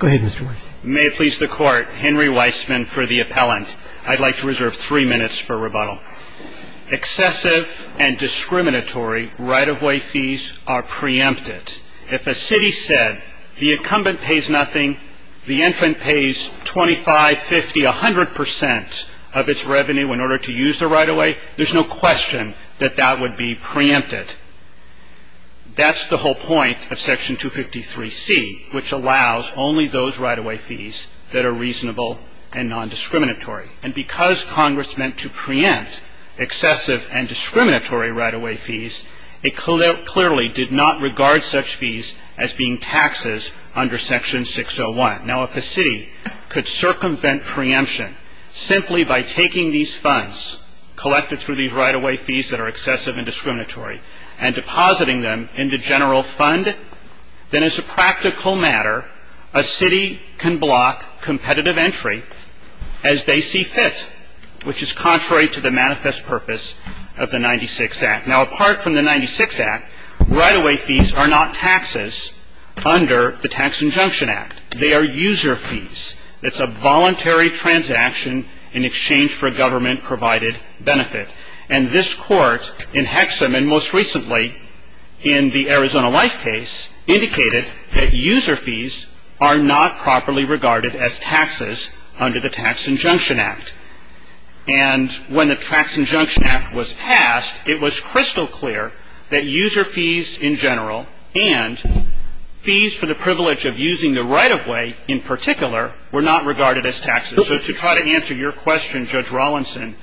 May it please the Court, Henry Weissman for the appellant. I'd like to reserve three minutes for rebuttal. Excessive and discriminatory right-of-way fees are preempted. If a city said the incumbent pays nothing, the entrant pays 25, 50, 100 percent of its revenue in order to use the right-of-way, there's no question that that would be preempted. That's the whole point of Section 253C, which allows only those right-of-way fees that are reasonable and non-discriminatory. And because Congress meant to preempt excessive and discriminatory right-of-way fees, it clearly did not regard such fees as being taxes under Section 601. Now, if a city could circumvent preemption simply by taking these funds collected through these right-of-way fees that are excessive and discriminatory and depositing them into general fund, then as a practical matter, a city can block competitive entry as they see fit, which is contrary to the manifest purpose of the 96 Act. Now, apart from the 96 Act, right-of-way fees are not taxes under the Tax Injunction Act. They are user fees. It's a voluntary transaction in exchange for a government-provided benefit. And this Court, in Hexham and most recently in the Arizona Life case, indicated that user fees are not properly regarded as taxes under the Tax Injunction Act. And when the Tax Injunction Act was passed, it was crystal clear that user fees in general and fees for the privilege of using the right-of-way in particular were not regarded as taxes. So to try to answer your question, Judge Rawlinson,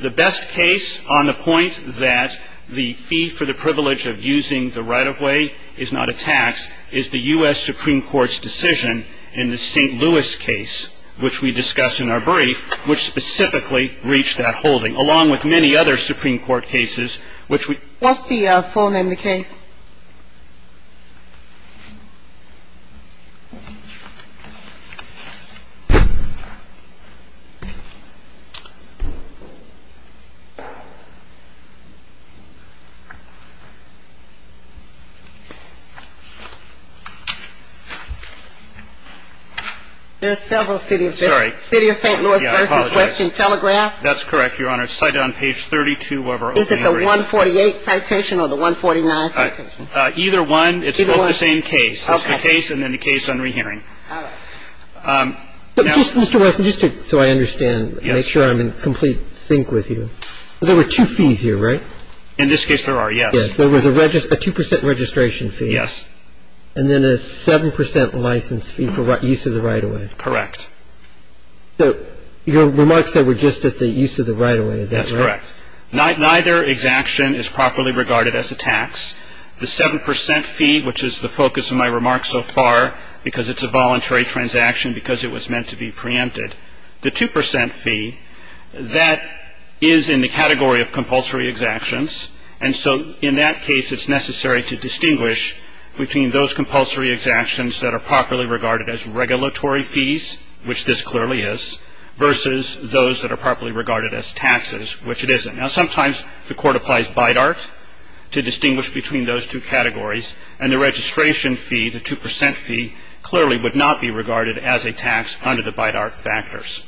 the best case on the point that the fee for the privilege of using the right-of-way is not a tax is the U.S. Supreme Court's decision in the St. Louis case, which we discussed in our brief, which specifically reached that holding, along with many other Supreme Court cases, which we What's the full name of the case? There are several cities. Sorry. City of St. Louis versus Western Telegraph. That's correct, Your Honor. There are several citations on the case. I would cite on page 32 of our opening hearing. Is it the 148 citation or the 149 citation? Either one. It's both the same case. Okay. It's the case and then the case on rehearing. All right. Now... But just, Mr. Weston, just to so I understand, make sure I'm in complete sync with you. There were two fees here, right? In this case, there are, yes. Yes. There was a 2% registration fee. Yes. And then a 7% license fee for use of the right-of-way. Correct. So your remarks said we're just at the use of the right-of-way. Is that correct? That's correct. Neither exaction is properly regarded as a tax. The 7% fee, which is the focus of my remarks so far, because it's a voluntary transaction, because it was meant to be preempted. The 2% fee, that is in the category of compulsory exactions, and so in that case it's necessary to distinguish between those compulsory exactions that are properly regarded as regulatory fees, which this clearly is, versus those that are properly regarded as taxes, which it isn't. Now, sometimes the court applies BIDART to distinguish between those two categories, and the registration fee, the 2% fee, clearly would not be regarded as a tax under the BIDART factors.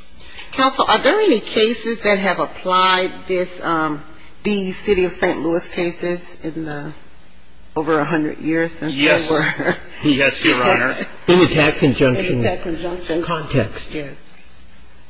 Counsel, are there any cases that have applied these City of St. Louis cases in the over 100 years since they were... Yes. Yes, Your Honor. In the tax injunction context.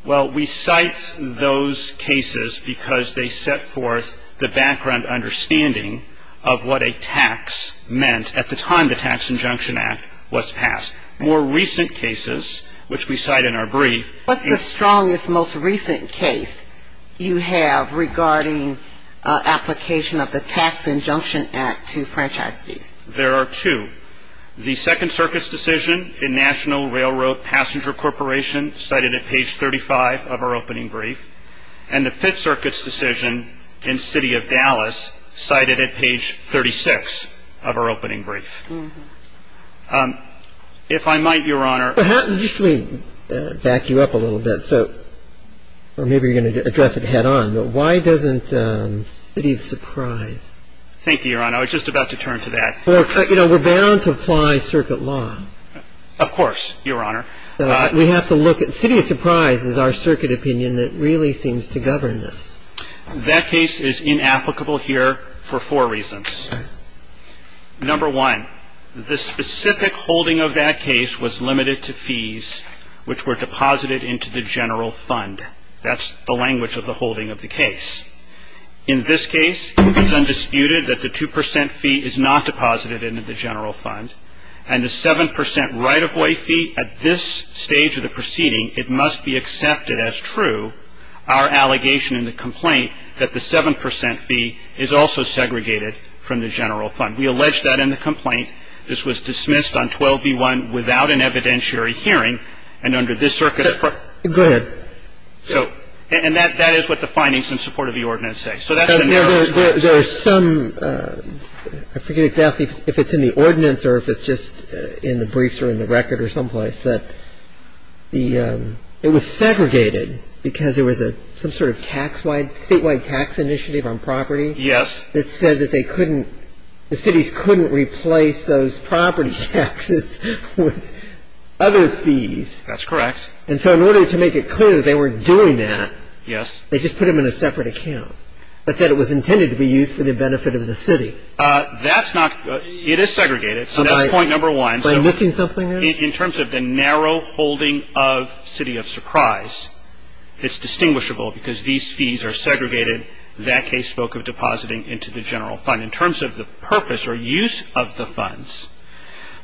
Well, we cite those cases because they set forth the background understanding of what a tax meant at the time the Tax Injunction Act was passed. More recent cases, which we cite in our brief... What's the strongest, most recent case you have regarding application of the Tax Injunction Act to franchise fees? There are two. The Second Circuit's decision in National Railroad Passenger Corporation, cited at page 35 of our opening brief, and the Fifth Circuit's decision in City of Dallas, cited at page 36 of our opening brief. If I might, Your Honor... Just let me back you up a little bit. So, or maybe you're going to address it head on, but why doesn't City of Surprise... Thank you, Your Honor. I was just about to turn to that. You know, we're bound to apply circuit law. Of course, Your Honor. We have to look at... City of Surprise is our circuit opinion that really seems to govern this. That case is inapplicable here for four reasons. Number one, the specific holding of that case was limited to fees which were deposited into the general fund. That's the language of the holding of the case. In this case, it's undisputed that the 2% fee is not deposited into the general fund. And the 7% right-of-way fee, at this stage of the proceeding, it must be accepted as true, our allegation in the complaint, that the 7% fee is also segregated from the general fund. We allege that in the complaint. This was dismissed on 12B1 without an evidentiary hearing, and under this circuit... Go ahead. And that is what the findings in support of the ordinance say. So that's the narrow... There are some... I forget exactly if it's in the ordinance or if it's just in the briefs or in the record or someplace, that it was segregated because there was some sort of tax-wide, statewide tax initiative on property... Yes. ...that said that they couldn't... The cities couldn't replace those property taxes with other fees. That's correct. And so in order to make it clear that they weren't doing that... Yes. ...they just put them in a separate account, but that it was intended to be used for the benefit of the city. That's not... It is segregated. So that's point number one. Am I missing something there? In terms of the narrow holding of City of Surprise, it's distinguishable because these fees are segregated. That case spoke of depositing into the general fund. In terms of the purpose or use of the funds,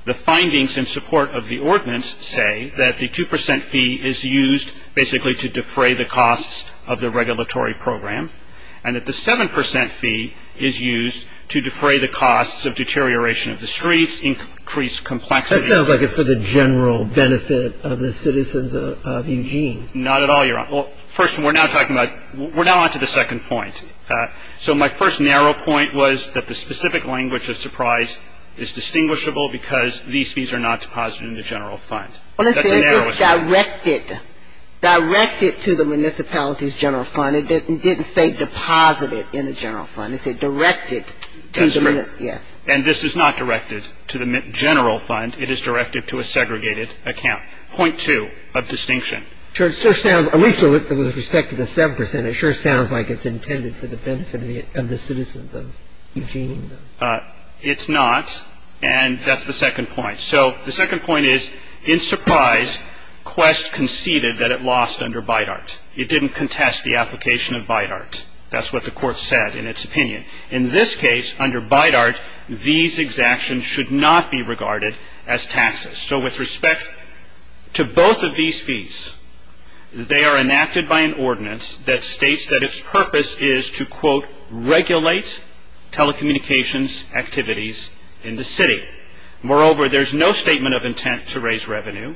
the findings in support of the ordinance say that the 2% fee is used basically to defray the costs of the regulatory program and that the 7% fee is used to defray the costs of deterioration of the streets, increase complexity... That sounds like it's for the general benefit of the citizens of Eugene. Not at all, Your Honor. Well, first, we're now talking about... We're now on to the second point. So my first narrow point was that the specific language of Surprise is distinguishable because these fees are not deposited in the general fund. Well, let's say it's directed. Directed to the municipality's general fund. It didn't say deposited in the general fund. It said directed to the... That's correct. Yes. And this is not directed to the general fund. It is directed to a segregated account. Point two of distinction. It sure sounds, at least with respect to the 7%, it sure sounds like it's intended for the benefit of the citizens of Eugene. It's not, and that's the second point. So the second point is, in Surprise, Quest conceded that it lost under Bidart. It didn't contest the application of Bidart. That's what the Court said in its opinion. In this case, under Bidart, these exactions should not be regarded as taxes. So with respect to both of these fees, they are enacted by an ordinance that states that its purpose is to, quote, regulate telecommunications activities in the city. Moreover, there's no statement of intent to raise revenue,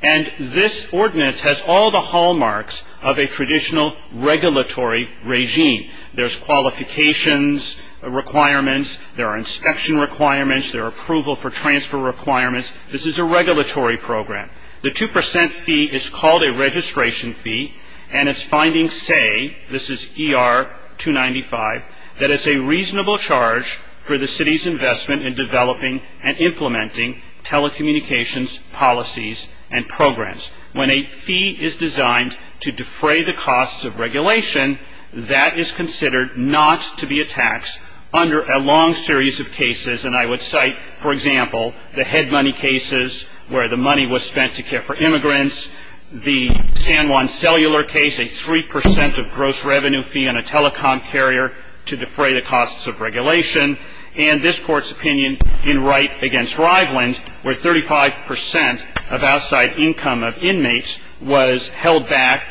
and this ordinance has all the hallmarks of a traditional regulatory regime. There's qualifications requirements. There are inspection requirements. There are approval for transfer requirements. This is a regulatory program. The 2% fee is called a registration fee, and its findings say, this is ER 295, that it's a reasonable charge for the city's investment in developing and implementing telecommunications policies and programs. When a fee is designed to defray the costs of regulation, that is considered not to be a tax under a long series of cases, and I would cite, for example, the head money cases where the money was spent to care for immigrants, the San Juan cellular case, a 3% of gross revenue fee on a telecom carrier to defray the costs of regulation, and this Court's opinion in Wright v. Riveland where 35% of outside income of inmates was held back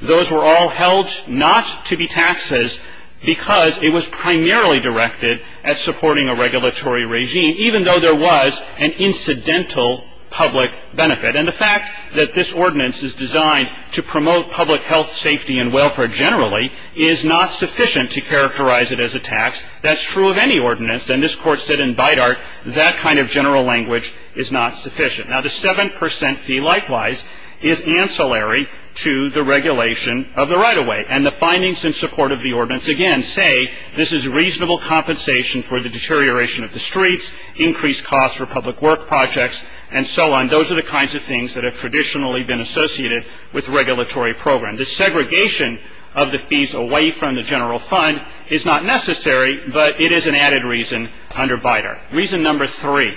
Those were all held not to be taxes because it was primarily directed at supporting a regulatory regime, even though there was an incidental public benefit, and the fact that this ordinance is designed to promote public health, safety, and welfare generally is not sufficient to characterize it as a tax. That's true of any ordinance, and this Court said in Bidart that kind of general language is not sufficient. Now, the 7% fee, likewise, is ancillary to the regulation of the right-of-way, and the findings in support of the ordinance, again, say this is reasonable compensation for the deterioration of the streets, increased costs for public work projects, and so on. Those are the kinds of things that have traditionally been associated with regulatory programs. The segregation of the fees away from the general fund is not necessary, but it is an added reason under Bidart. Reason number three.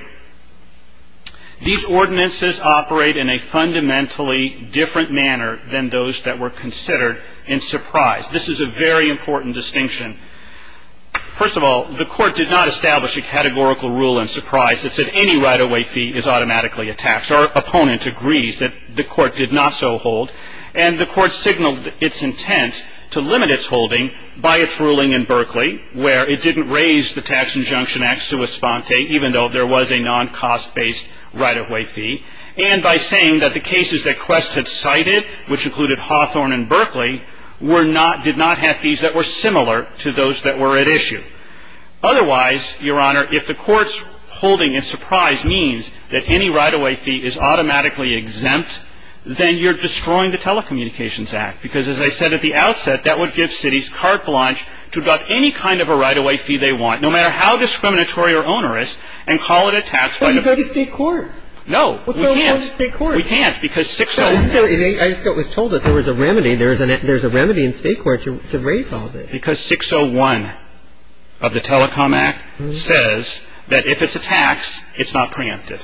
These ordinances operate in a fundamentally different manner than those that were considered in Surprise. This is a very important distinction. First of all, the Court did not establish a categorical rule in Surprise that said any right-of-way fee is automatically a tax. Our opponent agrees that the Court did not so hold, and the Court signaled its intent to limit its holding by its ruling in Berkeley, where it didn't raise the Tax Injunction Act sui sponte, even though there was a non-cost-based right-of-way fee, and by saying that the cases that Quest had cited, which included Hawthorne and Berkeley, did not have fees that were similar to those that were at issue. Otherwise, Your Honor, if the Court's holding in Surprise means that any right-of-way fee is automatically exempt, then you're destroying the Telecommunications Act, because as I said at the outset, that would give cities carte blanche to deduct any kind of a right-of-way fee they want, no matter how discriminatory or onerous, and call it a tax right of way. But you could go to state court. No, we can't. Well, throw it over to state court. We can't, because 601. I just got told that there was a remedy. There's a remedy in state court to raise all this. Because 601 of the Telecom Act says that if it's a tax, it's not preemptive.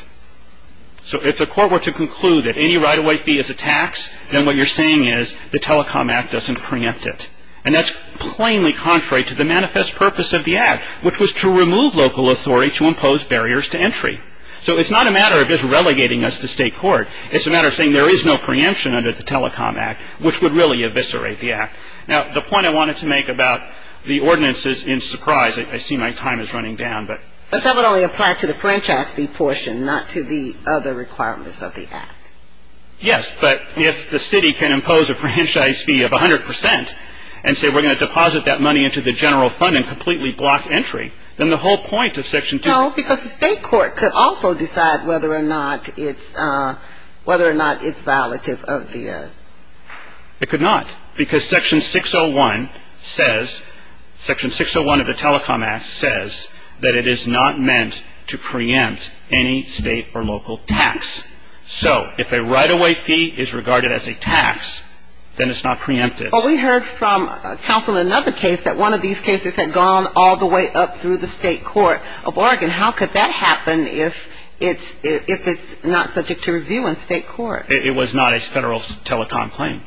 So if the Court were to conclude that any right-of-way fee is a tax, then what you're saying is the Telecom Act doesn't preempt it. And that's plainly contrary to the manifest purpose of the Act, which was to remove local authority to impose barriers to entry. So it's not a matter of just relegating us to state court. It's a matter of saying there is no preemption under the Telecom Act, which would really eviscerate the Act. Now, the point I wanted to make about the ordinances in Surprise, I see my time is running down. But that would only apply to the franchise fee portion, not to the other requirements of the Act. Yes, but if the city can impose a franchise fee of 100 percent and say we're going to deposit that money into the general fund and completely block entry, then the whole point of Section 2. No, because the state court could also decide whether or not it's violative of the. It could not. Because Section 601 says, Section 601 of the Telecom Act says that it is not meant to preempt any state or local tax. So if a right-of-way fee is regarded as a tax, then it's not preemptive. But we heard from counsel in another case that one of these cases had gone all the way up through the state court. A bargain, how could that happen if it's not subject to review in state court? It was not a Federal telecom claim.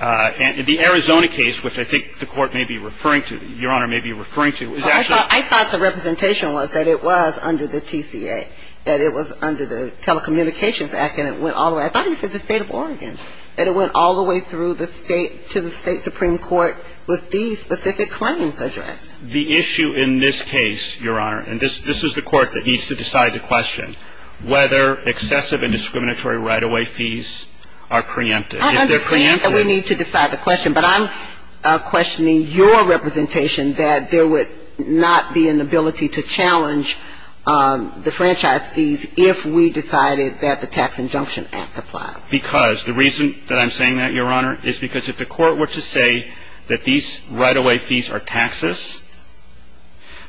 And the Arizona case, which I think the Court may be referring to, Your Honor, may be referring to, is actually. Well, I thought the representation was that it was under the TCA, that it was under the Telecommunications Act, and it went all the way. I thought he said the state of Oregon, that it went all the way through the state to the state supreme court with these specific claims addressed. The issue in this case, Your Honor, and this is the court that needs to decide the question, whether excessive and discriminatory right-of-way fees are preemptive. If they're preemptive. I understand that we need to decide the question, but I'm questioning your representation that there would not be an ability to challenge the franchise fees if we decided that the Tax Injunction Act applied. Because the reason that I'm saying that, Your Honor, is because if the court were to say that these right-of-way fees are taxes,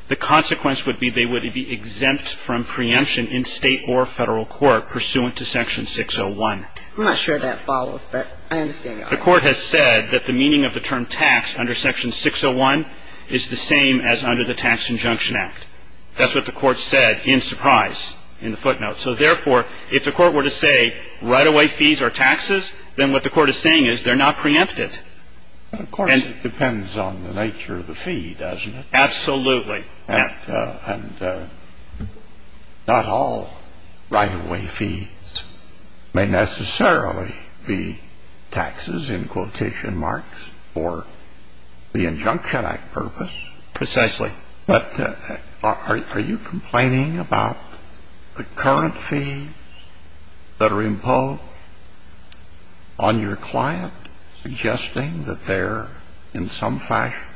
the consequence would be they would be exempt from preemption in state or Federal court pursuant to Section 601. I'm not sure that follows, but I understand. The court has said that the meaning of the term tax under Section 601 is the same as under the Tax Injunction Act. That's what the court said in surprise in the footnotes. So, therefore, if the court were to say right-of-way fees are taxes, then what the court is saying is they're not preemptive. Of course, it depends on the nature of the fee, doesn't it? Absolutely. And not all right-of-way fees may necessarily be taxes in quotation marks for the Injunction Act purpose. Precisely. But are you complaining about the current fees that are imposed on your client, suggesting that they're in some fashion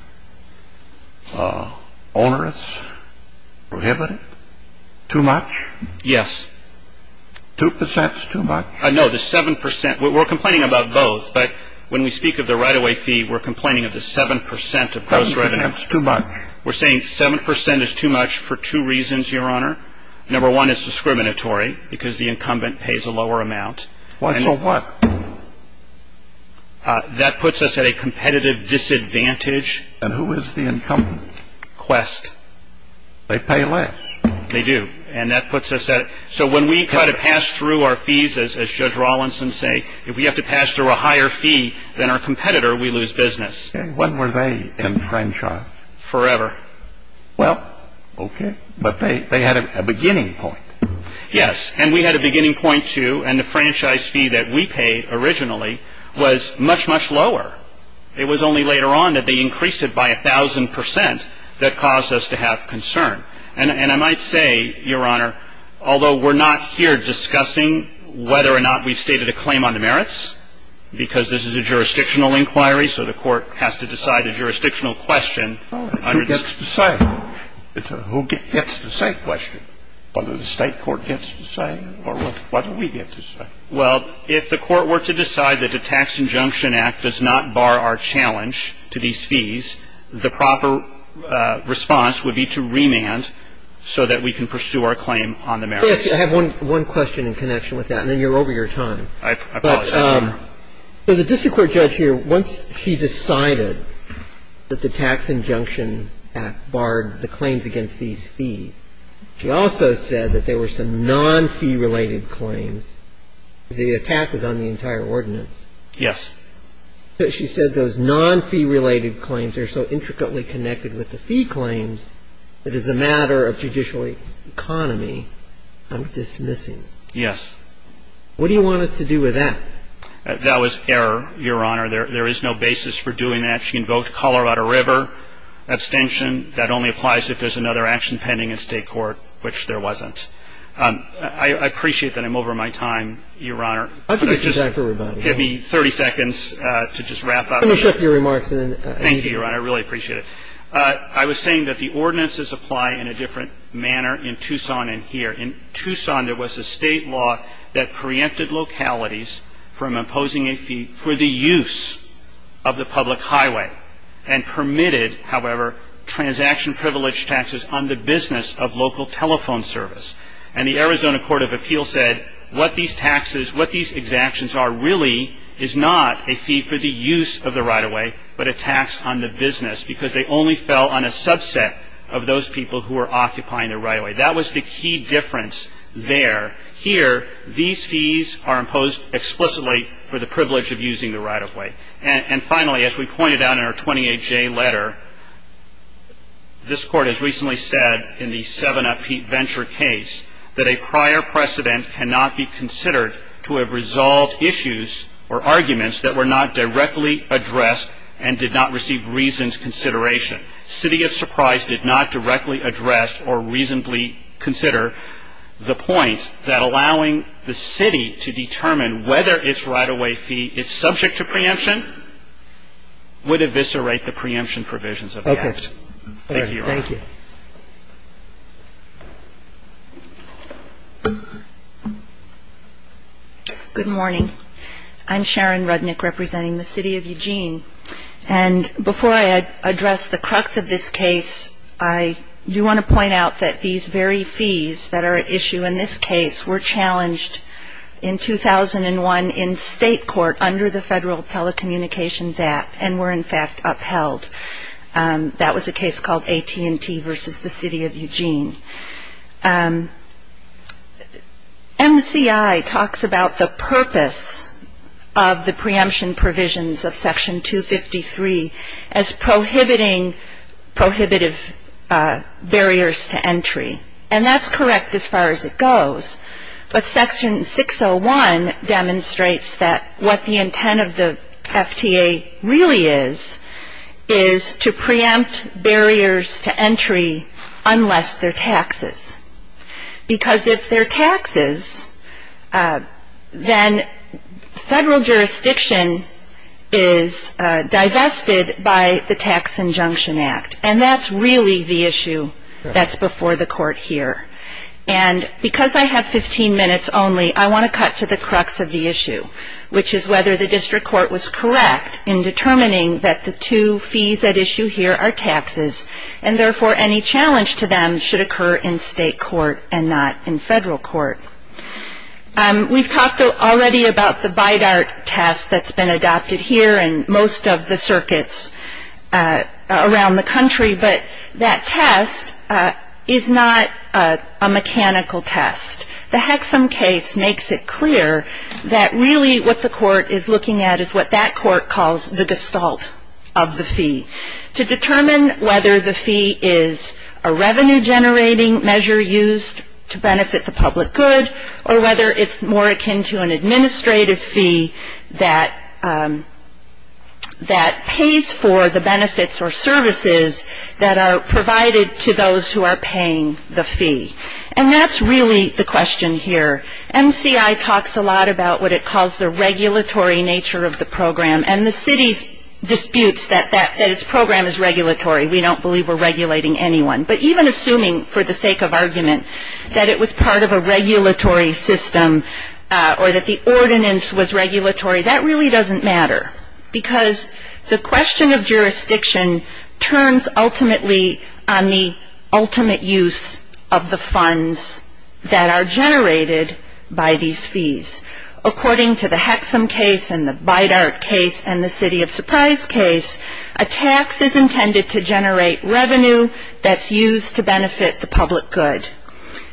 onerous, prohibited, too much? Yes. 2 percent is too much? No, the 7 percent. We're complaining about both. But when we speak of the right-of-way fee, we're complaining of the 7 percent of those right-of-way fees. 7 percent is too much. We're saying 7 percent is too much for two reasons, Your Honor. Number one, it's discriminatory, because the incumbent pays a lower amount. So what? That puts us at a competitive disadvantage. And who is the incumbent? Quest. They pay less. They do. And that puts us at – so when we try to pass through our fees, as Judge Rawlinson said, if we have to pass through a higher fee than our competitor, we lose business. And when were they enfranchised? Forever. Well, okay. But they had a beginning point. Yes. And we had a beginning point, too. And the franchise fee that we paid originally was much, much lower. It was only later on that they increased it by a thousand percent that caused us to have concern. And I might say, Your Honor, although we're not here discussing whether or not we've stated a claim on the merits, because this is a jurisdictional inquiry, so the Court has to decide a jurisdictional question. Who gets to say? It's a who gets to say question. Whether the State court gets to say or whether we get to say. Well, if the Court were to decide that the Tax Injunction Act does not bar our challenge to these fees, the proper response would be to remand so that we can pursue our claim on the merits. Yes. I have one question in connection with that, and then you're over your time. I apologize. So the district court judge here, once she decided that the Tax Injunction Act barred the claims against these fees, she also said that there were some non-fee-related claims. The attack is on the entire ordinance. Yes. She said those non-fee-related claims are so intricately connected with the fee claims that as a matter of judicial economy, I'm dismissing. Yes. What do you want us to do with that? That was error, Your Honor. There is no basis for doing that. She invoked Colorado River abstention. That only applies if there's another action pending in State court, which there wasn't. I appreciate that I'm over my time, Your Honor. I think it's time for rebuttal. Give me 30 seconds to just wrap up. Let me finish up your remarks and then you can go. Thank you, Your Honor. I really appreciate it. I was saying that the ordinances apply in a different manner in Tucson and here. In Tucson, there was a state law that preempted localities from imposing a fee for the use of the public highway and permitted, however, transaction privilege taxes on the business of local telephone service. And the Arizona Court of Appeals said what these taxes, what these exactions are, really is not a fee for the use of the right-of-way but a tax on the business because they only fell on a subset of those people who were occupying the right-of-way. That was the key difference there. Here, these fees are imposed explicitly for the privilege of using the right-of-way. And finally, as we pointed out in our 28-J letter, this Court has recently said in the 7-Up Heat Venture case that a prior precedent cannot be considered to have resolved issues or arguments that were not directly addressed and did not receive reasons consideration. And I would say that this is a case in which the city of Surprise did not directly address or reasonably consider the point that allowing the city to determine whether its right-of-way fee is subject to preemption would eviscerate the preemption provisions of the Act. Thank you. Good morning. I'm Sharon Rudnick representing the city of Eugene. And before I address the crux of this case, I do want to point out that these very fees that are at issue in this case were challenged in 2001 in state court under the Federal Telecommunications Act and were, in fact, upheld. That was a case called AT&T versus the city of Eugene. NCI talks about the purpose of the preemption provisions of Section 253 as prohibiting prohibitive barriers to entry. And that's correct as far as it goes. But Section 601 demonstrates that what the intent of the FTA really is, is to preempt barriers to entry unless they're taxes. Because if they're taxes, then federal jurisdiction is divested by the Tax Injunction Act. And that's really the issue that's before the court here. And because I have 15 minutes only, I want to cut to the crux of the issue, which is whether the district court was correct in determining that the two fees at issue here are taxes, and therefore any challenge to them should occur in state court and not in federal court. We've talked already about the BIDART test that's been adopted here and most of the circuits around the country, but that test is not a mechanical test. The Hexham case makes it clear that really what the court is looking at is what that court calls the gestalt of the fee, to determine whether the fee is a revenue-generating measure used to benefit the public good or whether it's more akin to an administrative fee that pays for the benefits or services that are provided to those who are paying the fee. And that's really the question here. MCI talks a lot about what it calls the regulatory nature of the program, and the city disputes that its program is regulatory. We don't believe we're regulating anyone. But even assuming for the sake of argument that it was part of a regulatory system or that the ordinance was regulatory, that really doesn't matter, because the question of jurisdiction turns ultimately on the ultimate use of the funds that are generated by these fees. According to the Hexham case and the BIDART case and the City of Surprise case, a tax is intended to generate revenue that's used to benefit the public good,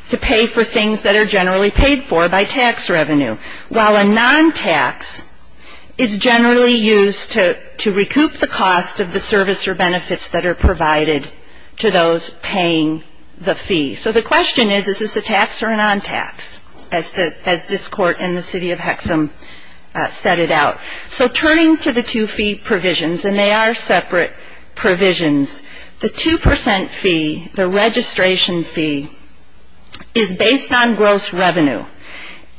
to pay for things that are generally paid for by tax revenue, while a non-tax is generally used to recoup the cost of the service or benefits that are provided to those paying the fee. So the question is, is this a tax or a non-tax, as this court and the City of Hexham set it out? So turning to the two fee provisions, and they are separate provisions, the 2% fee, the registration fee, is based on gross revenue.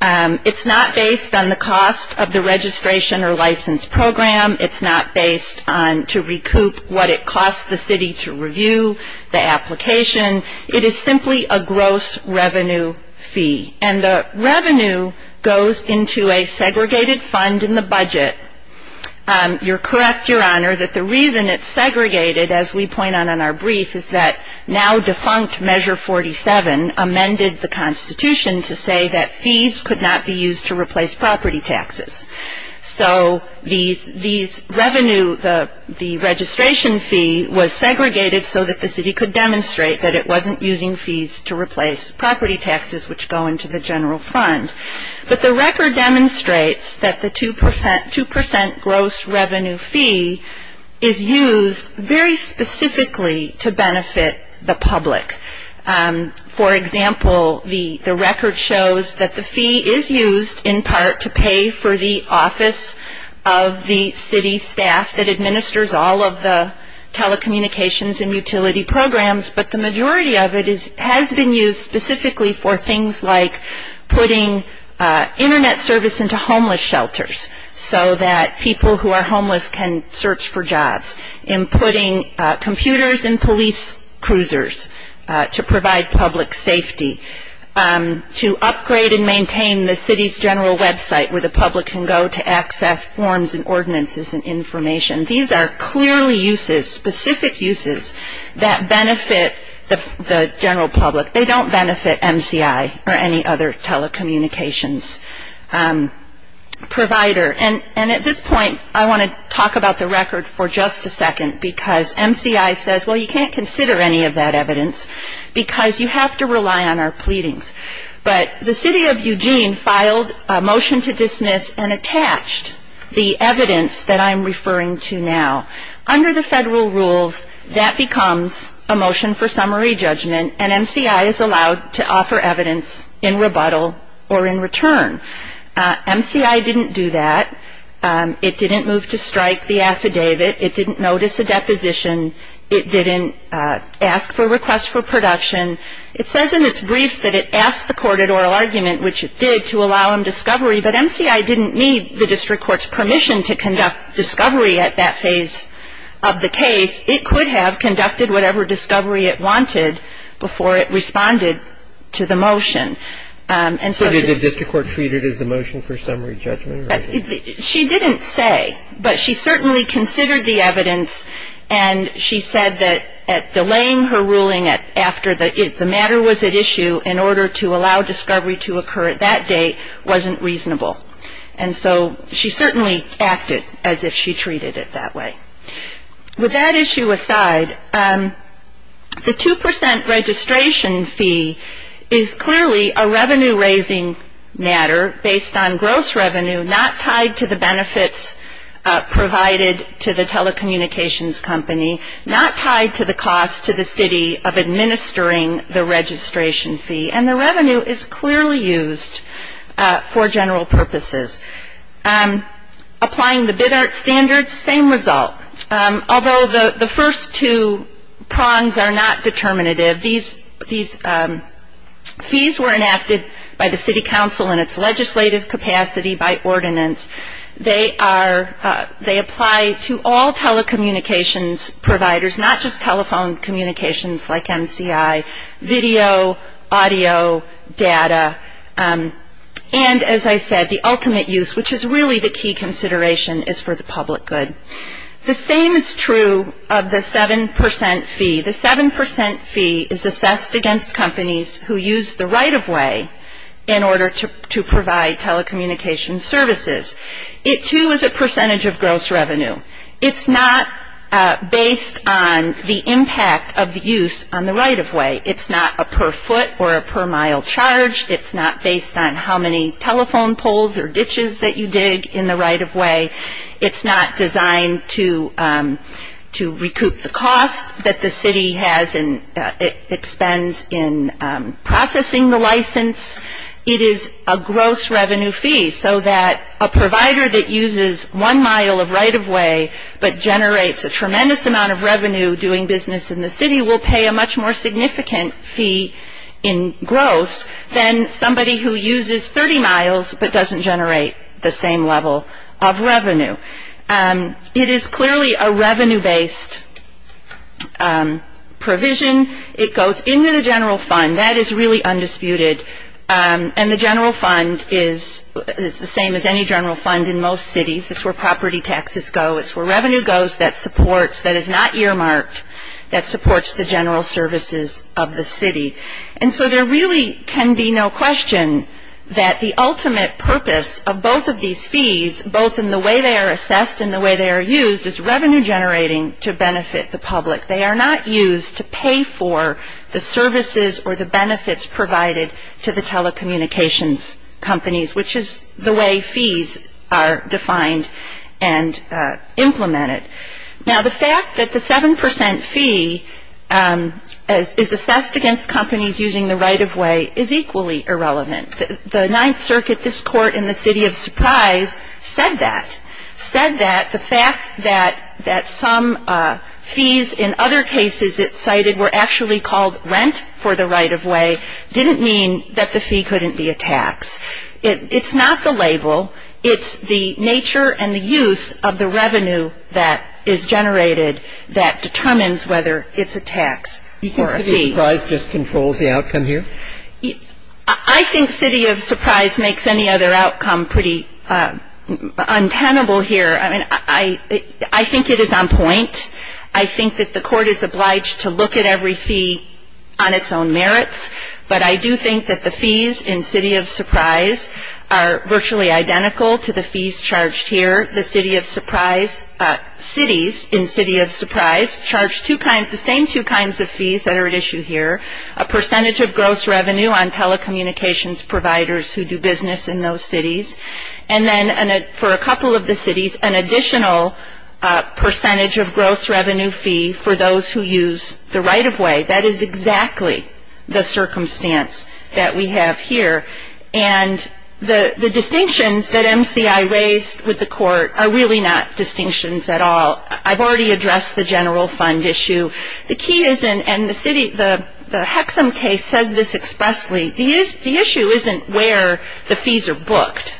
It's not based on the cost of the registration or license program. It's not based on to recoup what it costs the city to review the application. It is simply a gross revenue fee. And the revenue goes into a segregated fund in the budget. You're correct, Your Honor, that the reason it's segregated, as we point out in our brief, is that now-defunct Measure 47 amended the Constitution to say that fees could not be used to replace property taxes. So these revenue, the registration fee, was segregated so that the city could demonstrate that it wasn't using fees to replace property taxes, which go into the general fund. But the record demonstrates that the 2% gross revenue fee is used very specifically to benefit the public. For example, the record shows that the fee is used in part to pay for the office of the city staff that administers all of the telecommunications and utility programs, but the majority of it has been used specifically for things like putting Internet service into homeless shelters so that people who are homeless can search for jobs, in putting computers in police cruisers to provide public safety, to upgrade and maintain the city's general website where the public can go to access forms and ordinances and information. These are clearly uses, specific uses, that benefit the general public. They don't benefit MCI or any other telecommunications provider. And at this point, I want to talk about the record for just a second because MCI says, well, you can't consider any of that evidence because you have to rely on our pleadings. But the city of Eugene filed a motion to dismiss and attached the evidence that I'm referring to now. Under the federal rules, that becomes a motion for summary judgment, and MCI is allowed to offer evidence in rebuttal or in return. MCI didn't do that. It didn't move to strike the affidavit. It didn't notice a deposition. It didn't ask for a request for production. It says in its briefs that it asked the court at oral argument, which it did, to allow him discovery, but MCI didn't need the district court's permission to conduct discovery at that phase of the case. It could have conducted whatever discovery it wanted before it responded to the motion. And so she — How did the district court treat it as a motion for summary judgment? And she said that delaying her ruling after the matter was at issue in order to allow discovery to occur at that date wasn't reasonable. And so she certainly acted as if she treated it that way. With that issue aside, the 2 percent registration fee is clearly a revenue-raising matter based on gross revenue, not tied to the benefits provided to the telecommunications company, not tied to the cost to the city of administering the registration fee. And the revenue is clearly used for general purposes. Applying the bid art standards, same result. Although the first two prongs are not determinative, these fees were enacted by the city council in its legislative capacity by ordinance. They apply to all telecommunications providers, not just telephone communications like MCI, video, audio, data. And as I said, the ultimate use, which is really the key consideration, is for the public good. The same is true of the 7 percent fee. The 7 percent fee is assessed against companies who use the right-of-way in order to provide telecommunications services. It, too, is a percentage of gross revenue. It's not based on the impact of the use on the right-of-way. It's not a per foot or a per mile charge. It's not based on how many telephone poles or ditches that you dig in the right-of-way. It's not designed to recoup the cost that the city has and expends in processing the license. It is a gross revenue fee so that a provider that uses one mile of right-of-way but generates a tremendous amount of revenue doing business in the city will pay a much more significant fee in gross than somebody who uses 30 miles but doesn't generate the same level of revenue. It is clearly a revenue-based provision. It goes into the general fund. That is really undisputed. And the general fund is the same as any general fund in most cities. It's where property taxes go. It's where revenue goes that supports, that is not earmarked, that supports the general services of the city. And so there really can be no question that the ultimate purpose of both of these fees, both in the way they are assessed and the way they are used, is revenue generating to benefit the public. They are not used to pay for the services or the benefits provided to the telecommunications companies, which is the way fees are defined and implemented. Now, the fact that the 7% fee is assessed against companies using the right-of-way is equally irrelevant. The Ninth Circuit, this court in the city of Surprise said that. Said that the fact that some fees in other cases it cited were actually called rent for the right-of-way didn't mean that the fee couldn't be a tax. It's not the label. It's the nature and the use of the revenue that is generated that determines whether it's a tax or a fee. You think city of Surprise just controls the outcome here? I think city of Surprise makes any other outcome pretty untenable here. I mean, I think it is on point. I think that the court is obliged to look at every fee on its own merits. But I do think that the fees in city of Surprise are virtually identical to the fees charged here. The city of Surprise, cities in city of Surprise, charge the same two kinds of fees that are at issue here, a percentage of gross revenue on telecommunications providers who do business in those cities, and then for a couple of the cities, an additional percentage of gross revenue fee for those who use the right-of-way. That is exactly the circumstance that we have here. And the distinctions that MCI raised with the court are really not distinctions at all. I've already addressed the general fund issue. The key is, and the city, the Hexham case says this expressly, the issue isn't where the fees are booked.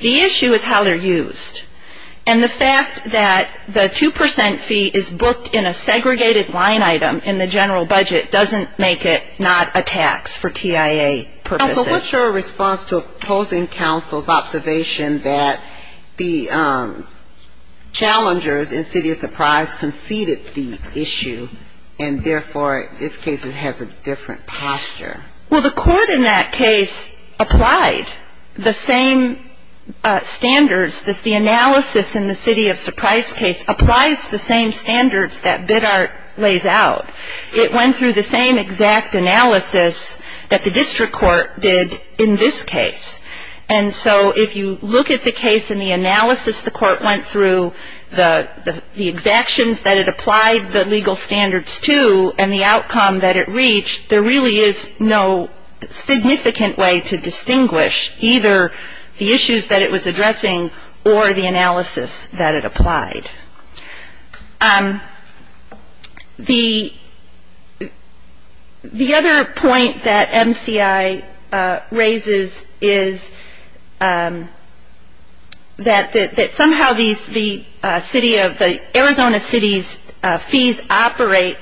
The issue is how they're used. And the fact that the 2 percent fee is booked in a segregated line item in the general budget doesn't make it not a tax for TIA purposes. So what's your response to opposing counsel's observation that the challengers in city of Surprise conceded the issue, and therefore, in this case, it has a different posture? Well, the court in that case applied the same standards. The analysis in the city of Surprise case applies the same standards that Biddart lays out. It went through the same exact analysis that the district court did in this case. And so if you look at the case and the analysis the court went through, the exactions that it applied the legal standards to, and the outcome that it reached, there really is no significant way to distinguish either the issues that it was addressing or the analysis that it applied. The other point that MCI raises is that somehow the city of the Arizona city's fees operate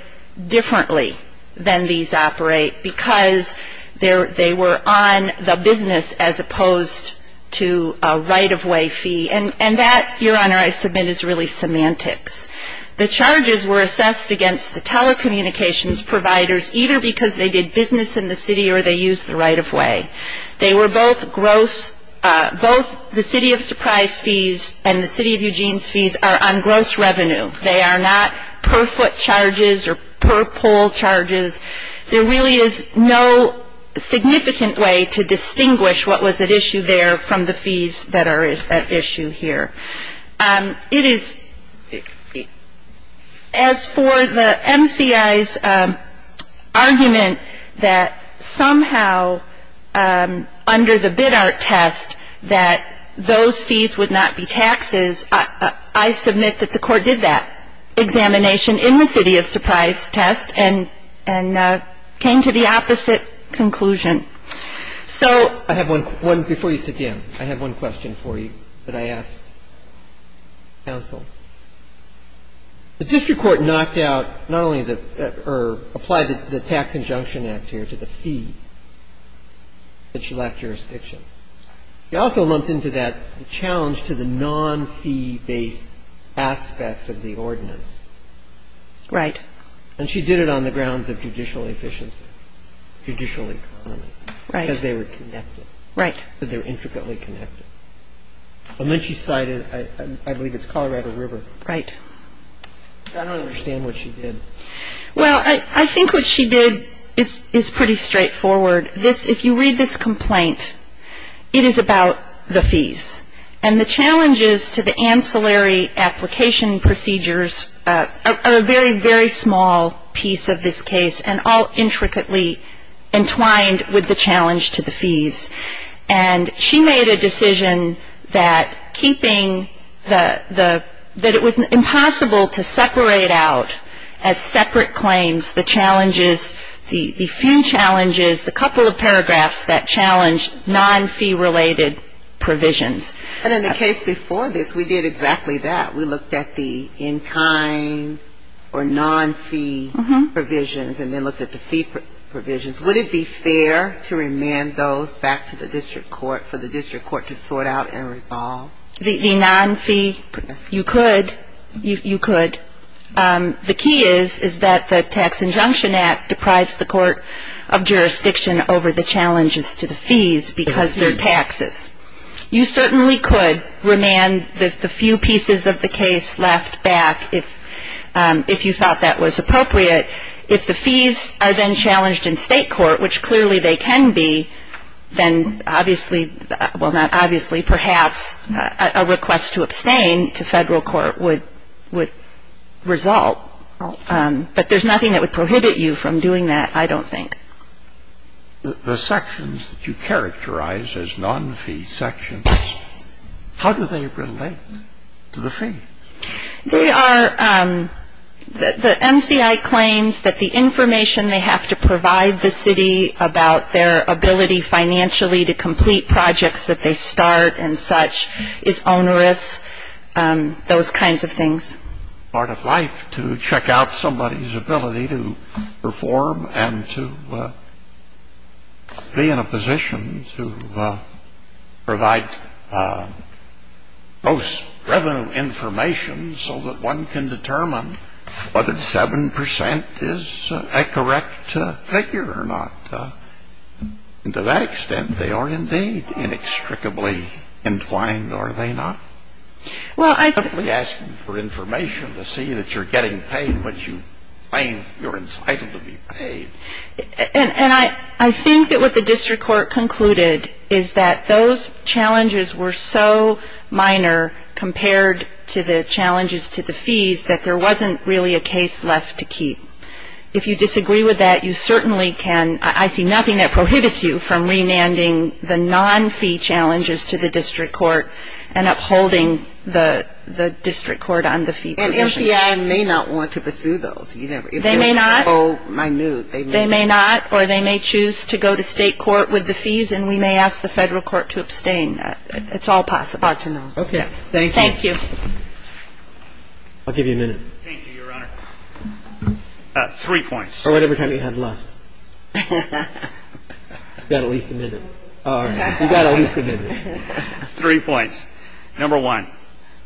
differently than these operate, because they were on the business as opposed to a right-of-way fee. And that, Your Honor, I submit is really semantics. The charges were assessed against the telecommunications providers either because they did business in the city or they used the right-of-way. They were both gross. Both the city of Surprise fees and the city of Eugene's fees are on gross revenue. They are not per-foot charges or per-pole charges. There really is no significant way to distinguish what was at issue there from the fees that are at issue here. It is as for the MCI's argument that somehow under the Biddart test that those fees would not be taxes, I submit that the Court did that examination in the city of Surprise test and came to the opposite conclusion. So — I have one before you sit down. I have one question for you that I asked counsel. The district court knocked out not only the — or applied the Tax Injunction Act here to the fees that should lack jurisdiction. They also lumped into that the challenge to the non-fee-based aspects of the ordinance. Right. And she did it on the grounds of judicial efficiency, judicial economy. Right. Because they were connected. Right. They were intricately connected. And then she cited, I believe it's Colorado River. Right. I don't understand what she did. Well, I think what she did is pretty straightforward. If you read this complaint, it is about the fees. And the challenges to the ancillary application procedures are a very, very small piece of this case and all intricately entwined with the challenge to the fees. And she made a decision that keeping the — that it was impossible to separate out as separate claims the challenges, the fee challenges, the couple of paragraphs that challenge non-fee-related provisions. And in the case before this, we did exactly that. We looked at the in-kind or non-fee provisions and then looked at the fee provisions. Would it be fair to remand those back to the district court for the district court to sort out and resolve? The non-fee? Yes. You could. You could. The key is, is that the Tax Injunction Act deprives the court of jurisdiction over the challenges to the fees because they're taxes. You certainly could remand the few pieces of the case left back if you thought that was appropriate. If the fees are then challenged in state court, which clearly they can be, then obviously — well, not obviously, perhaps a request to abstain to federal court would result. But there's nothing that would prohibit you from doing that, I don't think. The sections that you characterize as non-fee sections, how do they relate to the fee? They are — the NCI claims that the information they have to provide the city about their ability financially to complete projects that they start and such is onerous, those kinds of things. to check out somebody's ability to perform and to be in a position to provide post-revenue information so that one can determine whether 7 percent is a correct figure or not. And to that extent, they are indeed inextricably entwined, are they not? I'm not asking for information to see that you're getting paid what you claim you're entitled to be paid. And I think that what the district court concluded is that those challenges were so minor compared to the challenges to the fees that there wasn't really a case left to keep. If you disagree with that, you certainly can — I see nothing that prohibits you from remanding the non-fee challenges to the district court and upholding the district court on the fee provisions. And NCI may not want to pursue those. They may not. If they're so minute, they may not. They may not, or they may choose to go to state court with the fees, and we may ask the federal court to abstain. It's all possible. Hard to know. Okay. Thank you. Thank you. I'll give you a minute. Thank you, Your Honor. Three points. Or whatever time you have left. You've got at least a minute. All right. You've got at least a minute. Three points. Number one,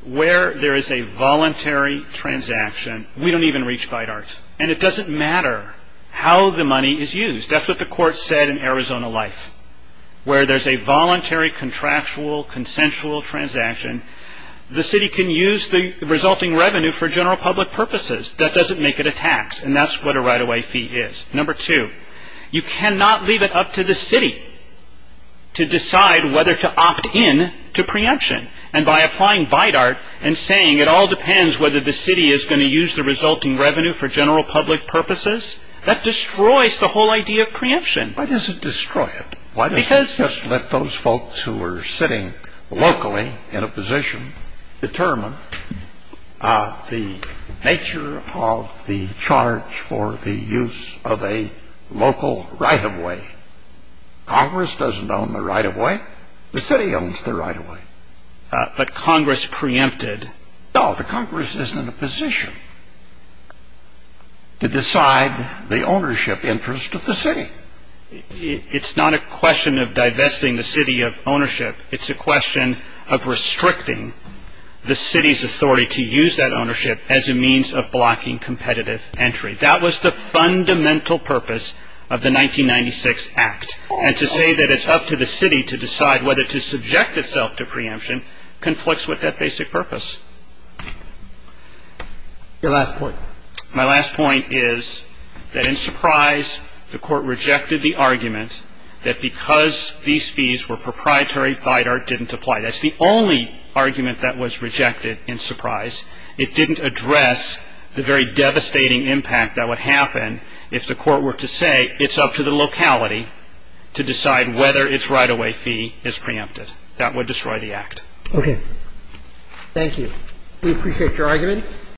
where there is a voluntary transaction — we don't even reach Bidart, and it doesn't matter how the money is used. That's what the court said in Arizona Life. Where there's a voluntary, contractual, consensual transaction, the city can use the resulting revenue for general public purposes. That doesn't make it a tax, and that's what a right-of-way fee is. Number two, you cannot leave it up to the city to decide whether to opt in to preemption, and by applying Bidart and saying it all depends whether the city is going to use the resulting revenue for general public purposes, that destroys the whole idea of preemption. Why does it destroy it? Why doesn't it just let those folks who are sitting locally in a position determine the nature of the charge for the use of a local right-of-way? Congress doesn't own the right-of-way. The city owns the right-of-way. But Congress preempted — No, the Congress isn't in a position to decide the ownership interest of the city. It's not a question of divesting the city of ownership. It's a question of restricting the city's authority to use that ownership as a means of blocking competitive entry. That was the fundamental purpose of the 1996 Act. And to say that it's up to the city to decide whether to subject itself to preemption conflicts with that basic purpose. Your last point. My last point is that in Surprise, the Court rejected the argument that because these fees were proprietary, Bidart didn't apply. That's the only argument that was rejected in Surprise. It didn't address the very devastating impact that would happen if the Court were to say it's up to the locality to decide whether its right-of-way fee is preempted. That would destroy the Act. Okay. Thank you. We appreciate your argument.